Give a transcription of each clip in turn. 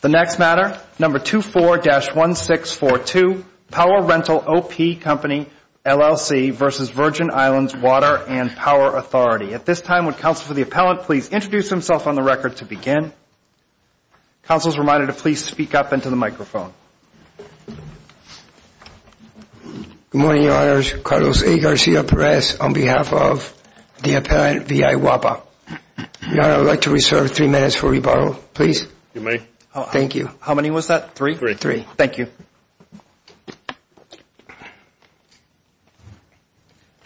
The next matter, number 24-1642, Power Rental OP CO, LLC v. Virgin Islands Water and Power Authority. At this time, would counsel for the appellant please introduce himself on the record to begin. Counsel is reminded to please speak up into the microphone. Good morning, your honors. Carlos A. Garcia Perez on behalf of the appellant, VI WAPA. Your honor, I would like to reserve three minutes for rebuttal, please. You may. Thank you. How many was that? Three? Three. Thank you.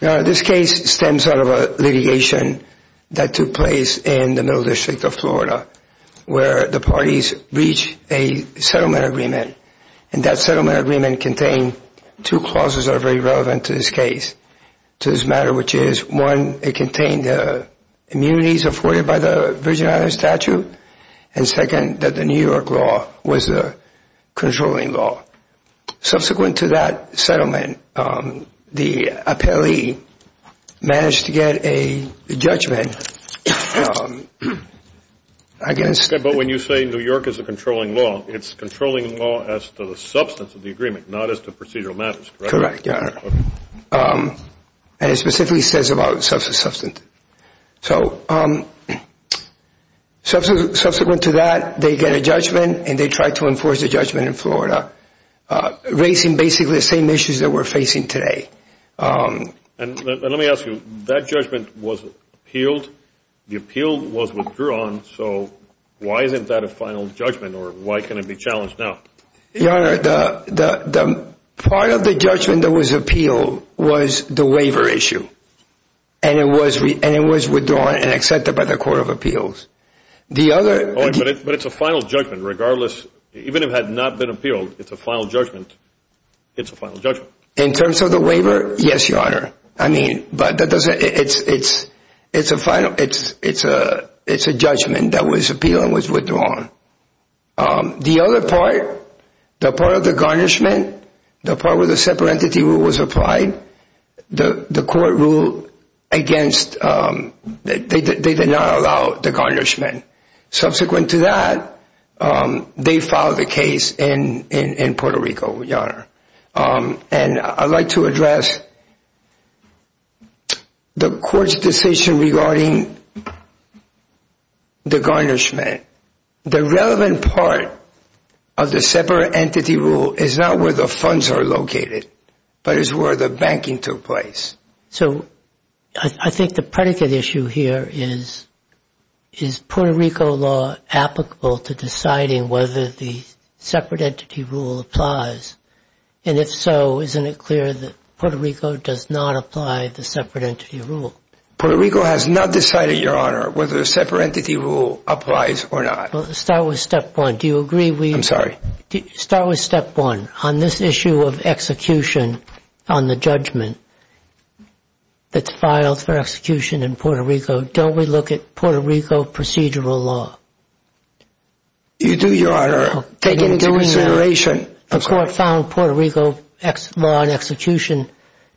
Your honor, this case stems out of a litigation that took place in the middle district of Florida where the parties reached a settlement agreement and that settlement agreement contained two clauses that are very relevant to this case, to this matter, which is one, it contained the immunities afforded by the Virgin Islands Statute, and second, that the New York law was the controlling law. Subsequent to that settlement, the appellee managed to get a judgment against... But when you say New York is a controlling law, it's controlling law as to the substance of the agreement, not as to procedural matters, correct? Correct, your honor. And it specifically says about substance. So subsequent to that, they get a judgment and they tried to enforce the judgment in Florida, raising basically the same issues that we're facing today. And let me ask you, that judgment was appealed, the appeal was withdrawn, so why isn't that a final judgment or why can it be challenged now? Your honor, the part of the judgment that was appealed was the waiver issue and it was withdrawn and accepted by the court of appeals. The other... But it's a final judgment regardless, even if it had not been appealed, it's a final judgment. It's a final judgment. In terms of the waiver, yes, your honor. I mean, but it's a judgment that was appealed and was withdrawn. The other part, the part of the garnishment, the part where the separate entity rule was applied, the court ruled against... They did not allow the garnishment. Subsequent to that, they filed the case in Puerto Rico, your honor. And I'd like to address the court's decision regarding the garnishment. The relevant part of the separate entity rule is not where the funds are located, but it's where the banking took place. So I think the predicate issue here is, is Puerto Rico law applicable to deciding whether the separate entity rule applies? And if so, isn't it clear that Puerto Rico does not apply the separate entity rule? Puerto Rico has not decided, your honor, whether the separate entity rule applies or not. Well, start with step one. Do you agree we... I'm sorry? Start with step one. On this issue of execution on the judgment that's filed for execution in Puerto Rico, don't we look at Puerto Rico procedural law? You do, your honor, taking into consideration... The court found Puerto Rico law and execution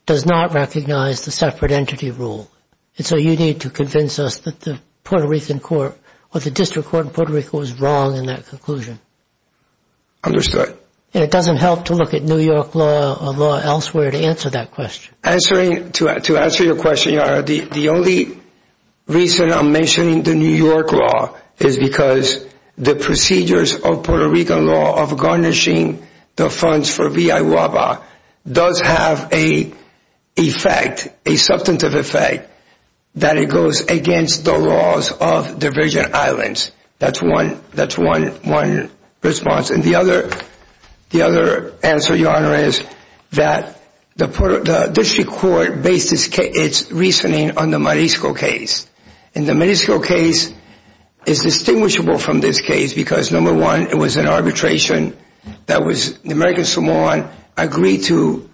does not recognize the separate entity rule. And so you need to convince us that the Puerto Rican court, or the district court in Puerto Rico was wrong in that conclusion. Understood. And it doesn't help to look at New York law or law elsewhere to answer that question. To answer your question, your honor, the only reason I'm mentioning the New York law is because the procedures of Puerto Rican law of garnishing the funds for V.I. Uaba does have a effect, a substantive effect, that it goes against the laws of division islands. That's one response. And the other answer, your honor, is that the district court based its reasoning on the Marisco case. And the Marisco case is distinguishable from this case because number one, it was an arbitration that was... The American Samoan agreed to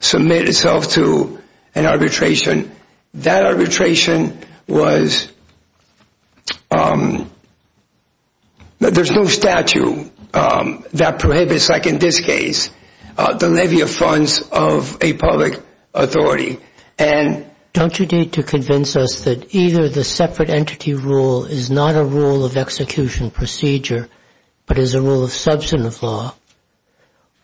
submit itself to an arbitration. That arbitration was... There's no statute that prohibits, like in this case, the levy of funds of a public authority. And... Don't you need to convince us that either the separate entity rule is not a rule of execution procedure, but is a rule of substantive law,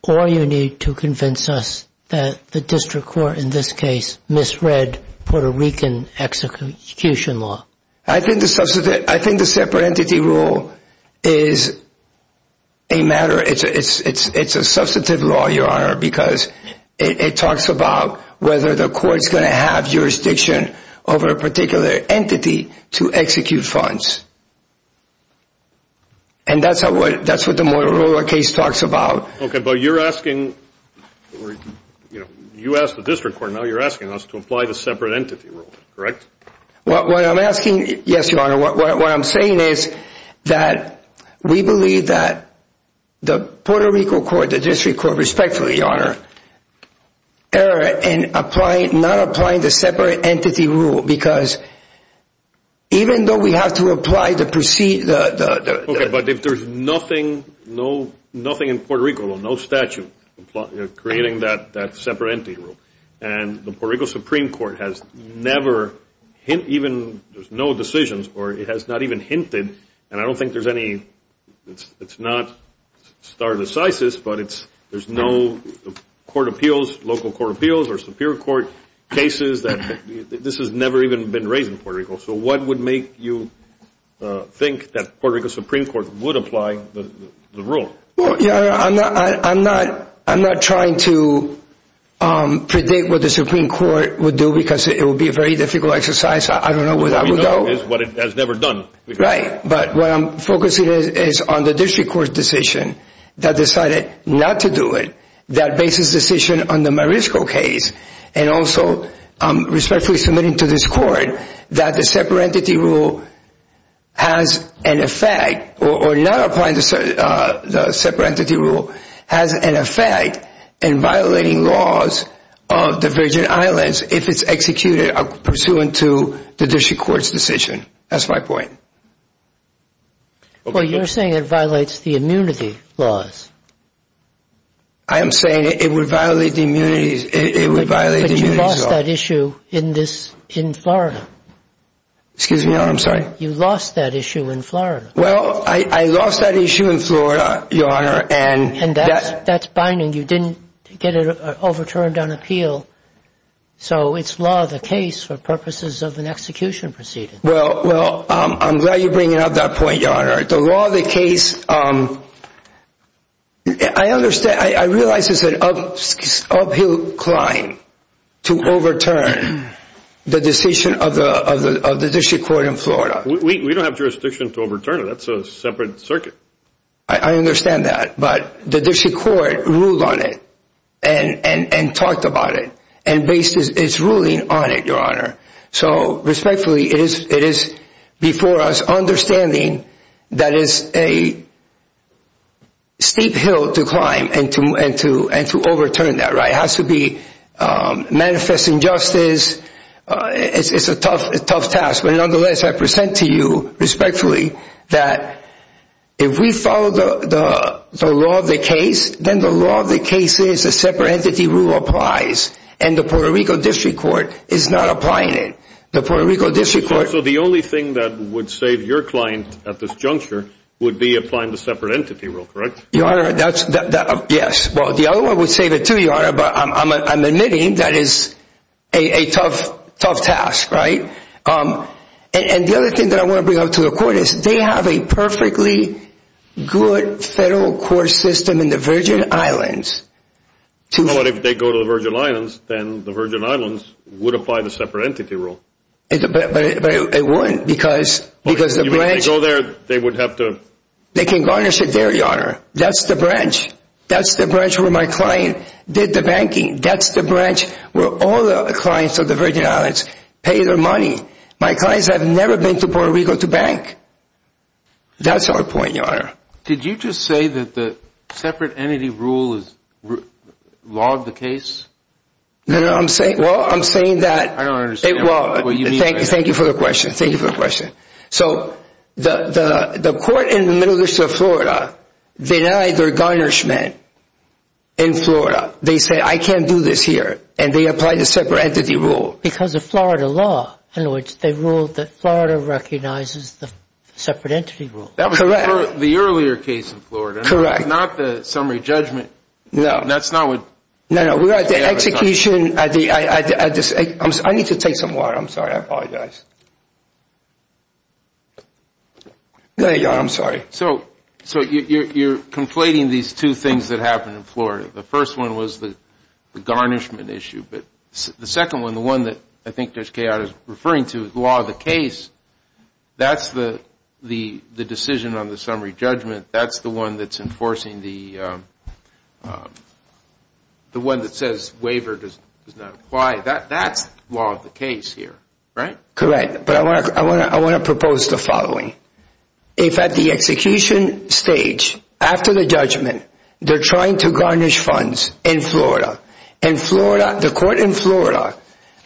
or you need to convince us that the district court, in this case, misread Puerto Rican execution law? I think the separate entity rule is a matter... It's a substantive law, your honor, because it talks about whether the court's going to have jurisdiction over a particular entity to execute funds. And that's what the Motorola case talks about. Okay, but you're asking... You asked the district court, now you're asking us to apply the separate entity rule, correct? What I'm asking... Yes, your honor. What I'm saying is that we believe that the Puerto Rico court, the district court, respectfully, your honor, error in not applying the separate entity rule because even though we have to apply the... Okay, but if there's nothing in Puerto Rico, no statute creating that separate entity rule, and the Puerto Rico Supreme Court has never even... There's no decisions, or it has not even hinted, and I don't think there's any... It's not stare decisis, but there's no court appeals, local court appeals, or superior court cases that... This has never even been raised in Puerto Rico. So what would make you think that Puerto Rico Supreme Court would apply the rule? Well, your honor, I'm not trying to predict what the Supreme Court would do because it would be a very difficult exercise. I don't know where that would go. What we know is what it has never done. Right, but what I'm focusing is on the district court decision that decided not to do it, that basis decision on the Marisco case, and also respectfully submitting to this court that the separate entity rule has an effect, or not applying the separate entity rule has an effect in violating laws of the Virgin Islands if it's executed pursuant to the district court's decision. That's my point. Okay. Well, you're saying it violates the immunity laws. I am saying it would violate the immunities... It would violate the immunities laws. You lost that issue in Florida. Excuse me, your honor. I'm sorry. You lost that issue in Florida. Well, I lost that issue in Florida, your honor, and... That's binding. You didn't get it overturned on appeal, so it's law of the case for purposes of an execution proceeding. Well, I'm glad you're bringing up that point, your honor. The law of the case, I realize it's an uphill climb to overturn the decision of the district court in Florida. We don't have jurisdiction to overturn it. That's a separate circuit. I understand that, but the district court ruled on it and talked about it, and it's ruling on it, your honor. So respectfully, it is before us understanding that is a steep hill to climb and to overturn that. It has to be manifest injustice. It's a tough task. But nonetheless, I present to you respectfully that if we follow the law of the case, then the law of the case is a separate entity rule applies, and the Puerto Rico district court is not applying it. The Puerto Rico district court... So the only thing that would save your client at this juncture would be applying the separate entity rule, correct? Your honor, that's... Yes. Well, the other one would save it too, your honor, but I'm admitting that is a tough task, right? And the other thing that I want to bring up to the court is they have a perfectly good federal court system in the Virgin Islands to... But if they go to the Virgin Islands, then the Virgin Islands would apply the separate entity rule. But it wouldn't because the branch... You mean if they go there, they would have to... They can garnish it there, your honor. That's the branch. That's the branch where my client did the banking. That's the branch where all the other clients of the Virgin Islands pay their money. My clients have never been to Puerto Rico to bank. That's our point, your honor. Did you just say that the separate entity rule is law of the case? No, no. I'm saying... Well, I'm saying that... I don't understand what you mean by that. Thank you for the question. Thank you for the question. So the court in the Middle East of Florida denied their garnishment in Florida. They said, I can't do this here, and they applied the separate entity rule. Because of Florida law, in other words, they ruled that Florida recognizes the separate entity rule. Correct. That was for the earlier case in Florida. Correct. Not the summary judgment. No. That's not what... No, no. We're at the execution at the... I need to take some water. I'm sorry. I apologize. There you are. I'm sorry. So you're conflating these two things that happened in Florida. The first one was the garnishment issue, but the second one, the one that I think Judge referring to as law of the case, that's the decision on the summary judgment. That's the one that's enforcing the... The one that says waiver does not apply. That's law of the case here, right? Correct. But I want to propose the following. If at the execution stage, after the judgment, they're trying to garnish funds in Florida, and Florida, the court in Florida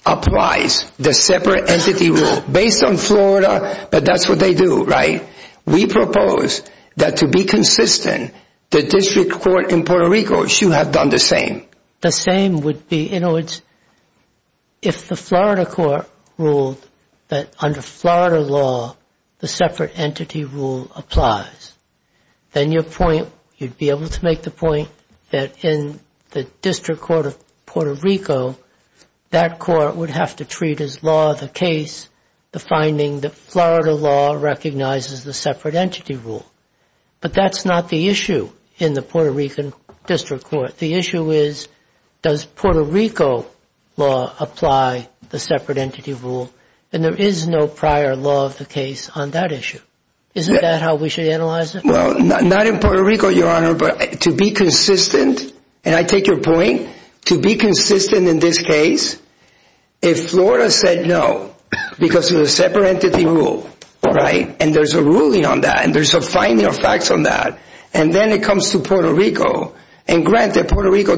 applies the separate entity rule based on Florida, but that's what they do, right? We propose that to be consistent, the district court in Puerto Rico should have done the same. The same would be, in other words, if the Florida court ruled that under Florida law, the separate entity rule applies, then your point, you'd be able to make the point that in the district court of Puerto Rico, that court would have to treat as law of the case, the finding that Florida law recognizes the separate entity rule. But that's not the issue in the Puerto Rican district court. The issue is, does Puerto Rico law apply the separate entity rule? And there is no prior law of the case on that issue. Isn't that how we should analyze it? Well, not in Puerto Rico, Your Honor, but to be consistent, and I take your point, to be consistent in this case, if Florida said no, because of the separate entity rule, right? And there's a ruling on that, and there's a finding of facts on that, and then it comes to Puerto Rico, and granted, Puerto Rico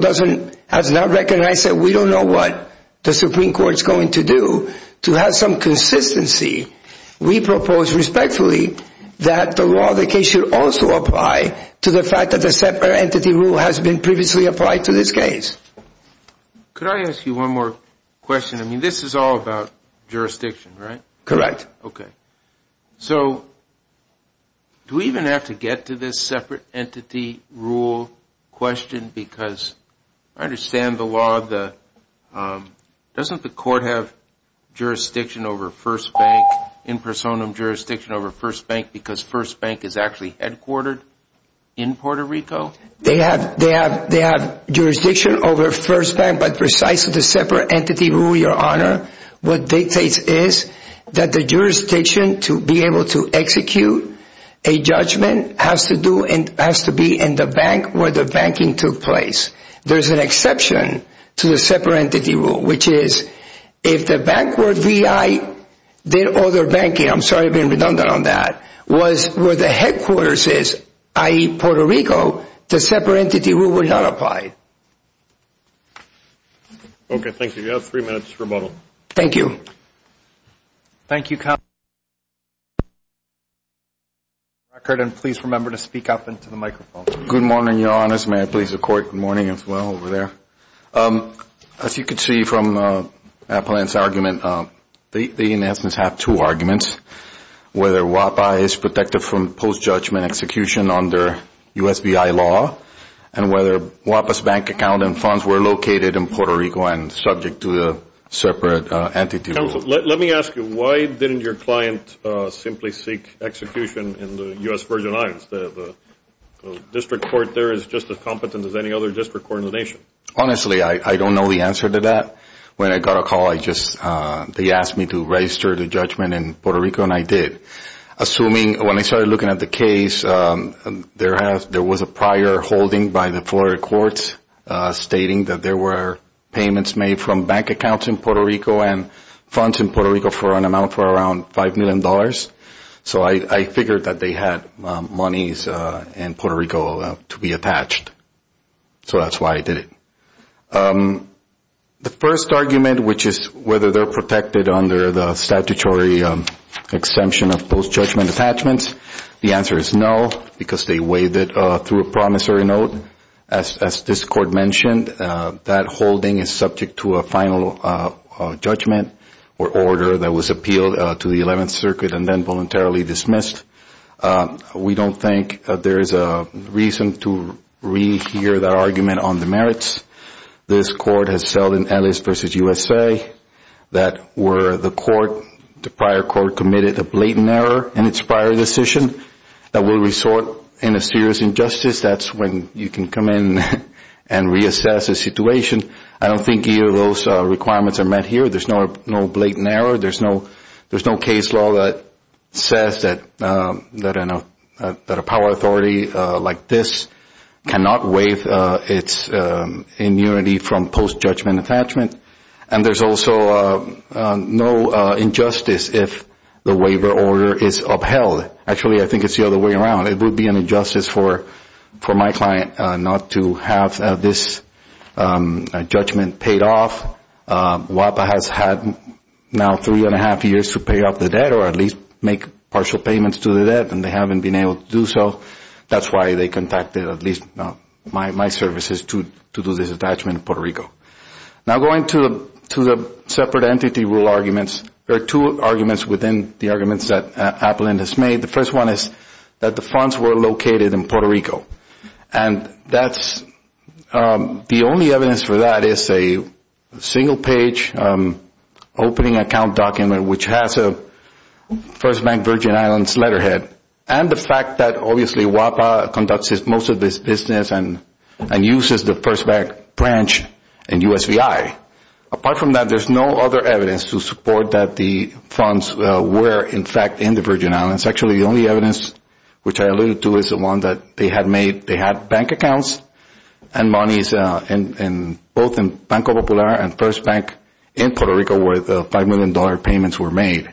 has not recognized that. We don't know what the Supreme Court's going to do to have some consistency. We propose respectfully that the law of the case should also apply to the fact that the separate entity rule has been previously applied to this case. Could I ask you one more question? This is all about jurisdiction, right? Correct. Okay. So, do we even have to get to this separate entity rule question, because I understand the law, doesn't the court have jurisdiction over First Bank, in personam jurisdiction over First Bank, because First Bank is actually headquartered in Puerto Rico? They have jurisdiction over First Bank, but precisely the separate entity rule, Your Honor, what dictates is that the jurisdiction to be able to execute a judgment has to be in the bank where the banking took place. There's an exception to the separate entity rule, which is if the bank where VI did all their banking, I'm sorry I'm being redundant on that, was where the headquarters is, i.e. Puerto Rico, the separate entity rule would not apply. Okay, thank you. You have three minutes to rebuttal. Thank you. Thank you, counsel. Please remember to speak up into the microphone. Good morning, Your Honors. May I please record? Good morning. Good morning, as well, over there. As you can see from Appellant's argument, they in essence have two arguments, whether WAPA is protected from post-judgment execution under USBI law, and whether WAPA's bank account and funds were located in Puerto Rico and subject to the separate entity rule. Let me ask you, why didn't your client simply seek execution in the U.S. Virgin Islands? The district court there is just as competent as any other district court in the nation. Honestly, I don't know the answer to that. When I got a call, they asked me to register the judgment in Puerto Rico, and I did. Assuming, when I started looking at the case, there was a prior holding by the Florida courts stating that there were payments made from bank accounts in Puerto Rico and funds in Puerto Rico for an amount for around $5 million. So, I figured that they had monies in Puerto Rico to be attached, so that's why I did it. The first argument, which is whether they're protected under the statutory exemption of post-judgment attachments, the answer is no, because they waived it through a promissory note. As this court mentioned, that holding is subject to a final judgment or order that was appealed to the 11th Circuit and then voluntarily dismissed. We don't think there is a reason to rehear that argument on the merits. This court has seldom, at least versus USA, that where the court, the prior court committed a blatant error in its prior decision that will resort in a serious injustice. That's when you can come in and reassess a situation. I don't think either of those requirements are met here. There's no blatant error. There's no case law that says that a power authority like this cannot waive its immunity from post-judgment attachment. And there's also no injustice if the waiver order is upheld. Actually, I think it's the other way around. It would be an injustice for my client not to have this judgment paid off. WAPA has had now three and a half years to pay off the debt or at least make partial payments to the debt, and they haven't been able to do so. That's why they contacted at least my services to do this attachment in Puerto Rico. Now going to the separate entity rule arguments, there are two arguments within the arguments that Applin has made. The first one is that the funds were located in Puerto Rico, and the only evidence for that is a single-page opening account document, which has a First Bank Virgin Islands letterhead, and the fact that obviously WAPA conducts most of its business and uses the First Bank branch in USVI. Apart from that, there's no other evidence to support that the funds were, in fact, in the Virgin Islands. Actually, the only evidence which I alluded to is the one that they had bank accounts and monies both in Banco Popular and First Bank in Puerto Rico where the $5 million payments were made.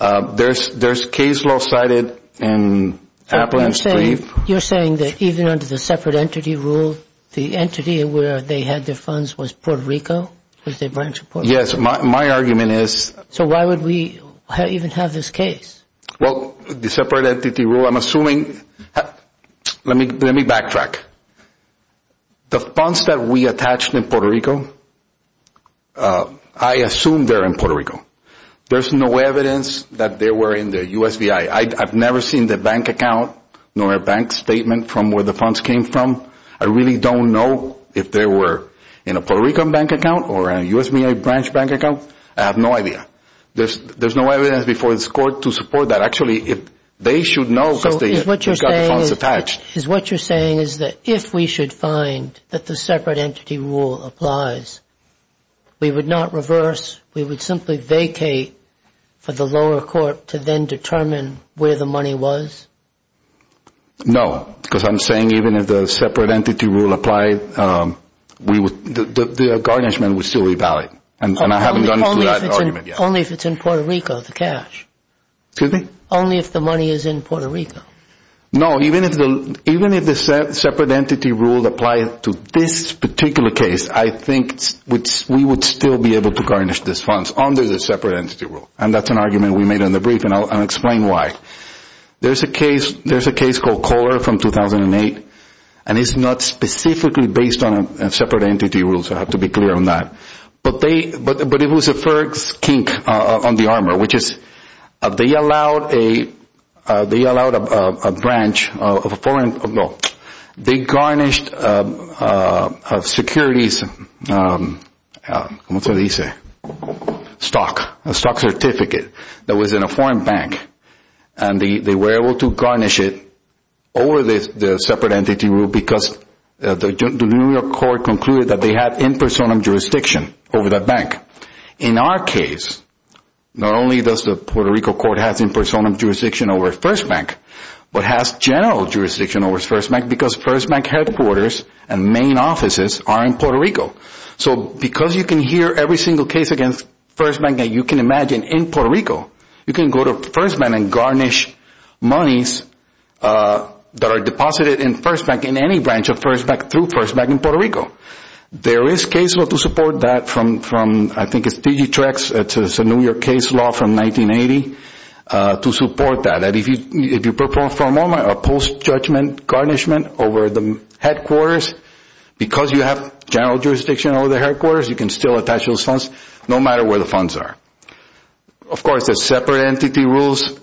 There's case law cited in Applin's brief. You're saying that even under the separate entity rule, the entity where they had their funds was Puerto Rico, was their branch in Puerto Rico? Yes. My argument is... So why would we even have this case? Well, the separate entity rule, I'm assuming... Let me backtrack. The funds that we attached in Puerto Rico, I assume they're in Puerto Rico. There's no evidence that they were in the USVI. I've never seen the bank account nor a bank statement from where the funds came from. I really don't know if they were in a Puerto Rican bank account or a USVI branch bank account. I have no idea. There's no evidence before this court to support that. Actually, they should know because they got the funds attached. What you're saying is that if we should find that the separate entity rule applies, we would not reverse. We would simply vacate for the lower court to then determine where the money was? No, because I'm saying even if the separate entity rule applied, the garnishment would still be valid. Only if it's in Puerto Rico, the cash. Excuse me? Only if the money is in Puerto Rico. No, even if the separate entity rule applied to this particular case, I think we would still be able to garnish these funds under the separate entity rule. That's an argument we made in the brief and I'll explain why. There's a case called Kohler from 2008 and it's not specifically based on a separate entity rule, so I have to be clear on that. But it was a Ferg's kink on the armor, which is they allowed a branch of a foreign... No. They garnished a securities stock certificate that was in a foreign bank and they were able to garnish it over the separate entity rule because the New York court concluded that they had in personam jurisdiction over that bank. In our case, not only does the Puerto Rico court have in personam jurisdiction over First Bank, but has general jurisdiction over First Bank because First Bank headquarters and main offices are in Puerto Rico. So because you can hear every single case against First Bank that you can imagine in Puerto Rico, you can go to First Bank and garnish monies that are deposited in First Bank in any branch of First Bank through First Bank in Puerto Rico. There is case law to support that from, I think it's DG Trex, it's a New York case law from 1980 to support that. If you perform a post judgment garnishment over the headquarters because you have general jurisdiction over the headquarters, you can still attach those funds no matter where the funds are. Of course, the separate entity rules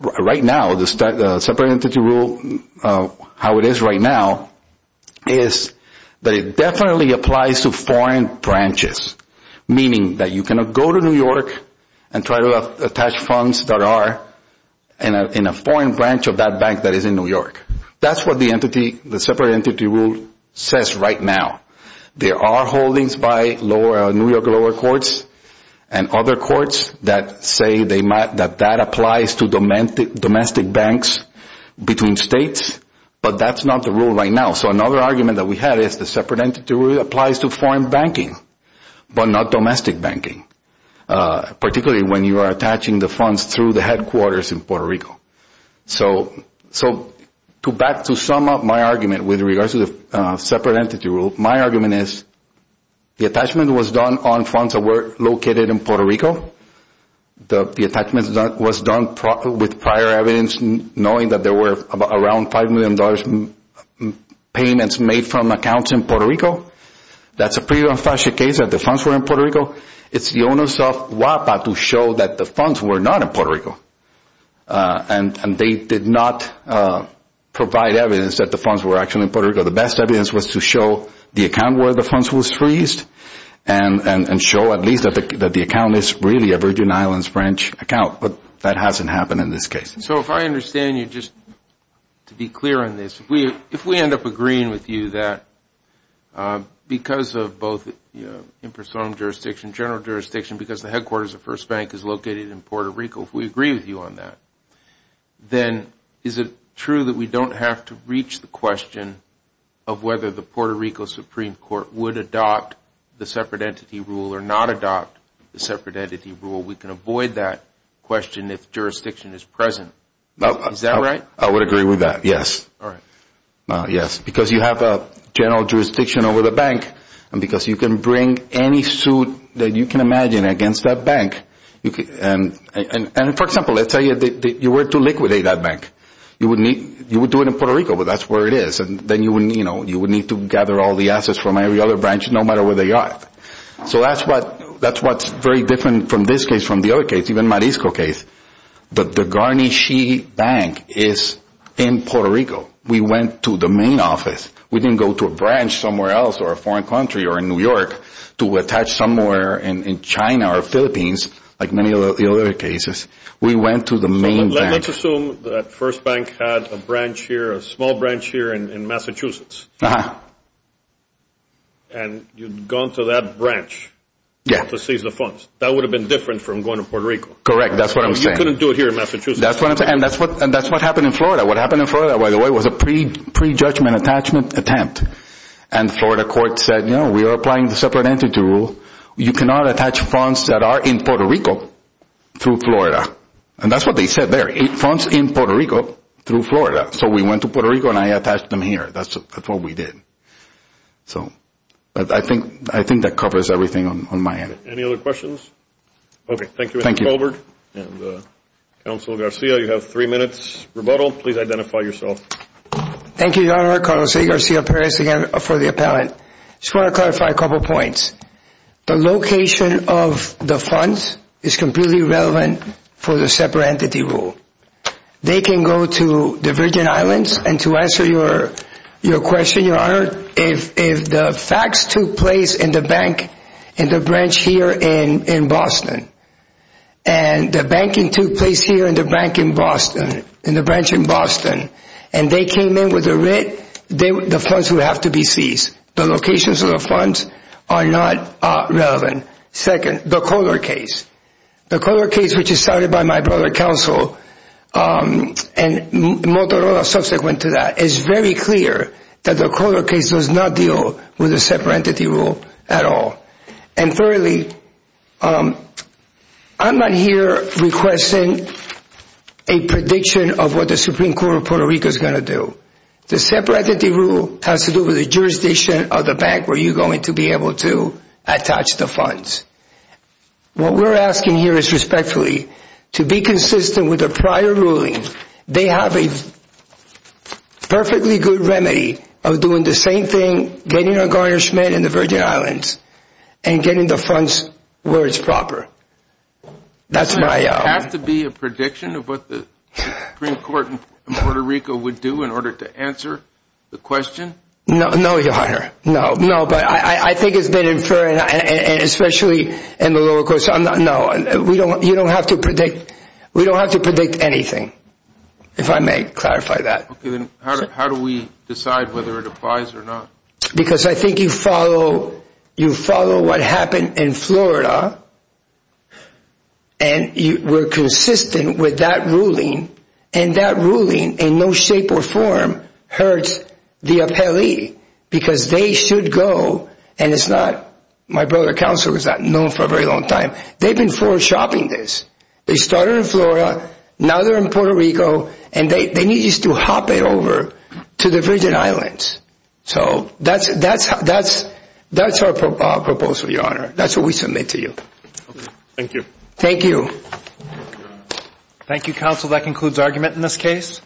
right now, the separate entity rule, how it is right now is that it definitely applies to foreign branches, meaning that you cannot go to New York and try to attach funds that are in a foreign branch of that bank that is in New York. That's what the entity, the separate entity rule says right now. There are holdings by New York lower courts and other courts that say that that applies to domestic banks between states, but that's not the rule right now. So another argument that we have is the separate entity rule applies to foreign banking, but not domestic banking, particularly when you are attaching the funds through the headquarters in Puerto Rico. So back to sum up my argument with regards to the separate entity rule, my argument is the attachment was done on funds that were located in Puerto Rico, the attachment was done with prior evidence knowing that there were around $5 million payments made from accounts in Puerto Rico. That's a pretty unfashionable case that the funds were in Puerto Rico. It's the onus of WAPA to show that the funds were not in Puerto Rico and they did not provide evidence that the funds were actually in Puerto Rico. The best evidence was to show the account where the funds was freezed and show at least that the account is really a Virgin Islands branch account, but that hasn't happened in this case. So if I understand you, just to be clear on this, if we end up agreeing with you that because of both impersonal jurisdiction and general jurisdiction, because the headquarters of First Bank is located in Puerto Rico, if we agree with you on that, then is it true that we don't have to reach the question of whether the Puerto Rico Supreme Court would adopt the separate entity rule or not adopt the separate entity rule? We can avoid that question if jurisdiction is present. Is that right? I would agree with that, yes. Yes, because you have a general jurisdiction over the bank and because you can bring any suit that you can imagine against that bank. For example, let's say you were to liquidate that bank. You would do it in Puerto Rico, but that's where it is, and then you would need to gather all the assets from every other branch no matter where they are. So that's what's very different from this case, from the other case, even Marisco case, that the Garni Xi Bank is in Puerto Rico. We went to the main office. We didn't go to a branch somewhere else or a foreign country or in New York to attach somewhere in China or Philippines like many of the other cases. We went to the main bank. Let's assume that First Bank had a branch here, a small branch here in Massachusetts, and you'd gone to that branch to seize the funds. That would have been different from going to Puerto Rico. Correct. That's what I'm saying. You couldn't do it here in Massachusetts. That's what I'm saying. And that's what happened in Florida. What happened in Florida, by the way, was a pre-judgment attachment attempt. And Florida court said, you know, we are applying the separate entity rule. You cannot attach funds that are in Puerto Rico through Florida. And that's what they said there, funds in Puerto Rico through Florida. So we went to Puerto Rico and I attached them here. That's what we did. So I think that covers everything on my end. Any other questions? Okay. Thank you. Thank you. Thank you. And Councilor Garcia, you have three minutes rebuttal. Please identify yourself. Thank you, Your Honor. Carlos Garcia Perez again for the appellant. Just want to clarify a couple of points. The location of the funds is completely irrelevant for the separate entity rule. They can go to the Virgin Islands. And to answer your question, Your Honor, if the facts took place in the bank, in the branch here in Boston, and the banking took place here in the bank in Boston, in the branch in Boston, and they came in with the rent, the funds would have to be seized. The locations of the funds are not relevant. Second, the Kohler case. The Kohler case, which is started by my brother, Counsel, and Motorola subsequent to that, is very clear that the Kohler case does not deal with the separate entity rule at all. And thirdly, I'm not here requesting a prediction of what the Supreme Court of Puerto Rico is going to do. The separate entity rule has to do with the jurisdiction of the bank where you're going to be able to attach the funds. What we're asking here is respectfully to be consistent with the prior ruling. They have a perfectly good remedy of doing the same thing, getting our garnishment in the Virgin Islands, and getting the funds where it's proper. That's my... Does it have to be a prediction of what the Supreme Court in Puerto Rico would do in order to answer the question? No, Your Honor. No. No. But I think it's been inferred, and especially in the lower courts, no. You don't have to predict. We don't have to predict anything, if I may clarify that. Okay. Then how do we decide whether it applies or not? Because I think you follow what happened in Florida, and we're consistent with that ruling. And that ruling, in no shape or form, hurts the appellee. Because they should go, and it's not... My brother Counselor was not known for a very long time. They've been forward shopping this. They started in Florida, now they're in Puerto Rico, and they need just to hop it over to the Virgin Islands. So that's our proposal, Your Honor. That's what we submit to you. Okay. Thank you. Thank you. Thank you, Counsel. That concludes argument in this case.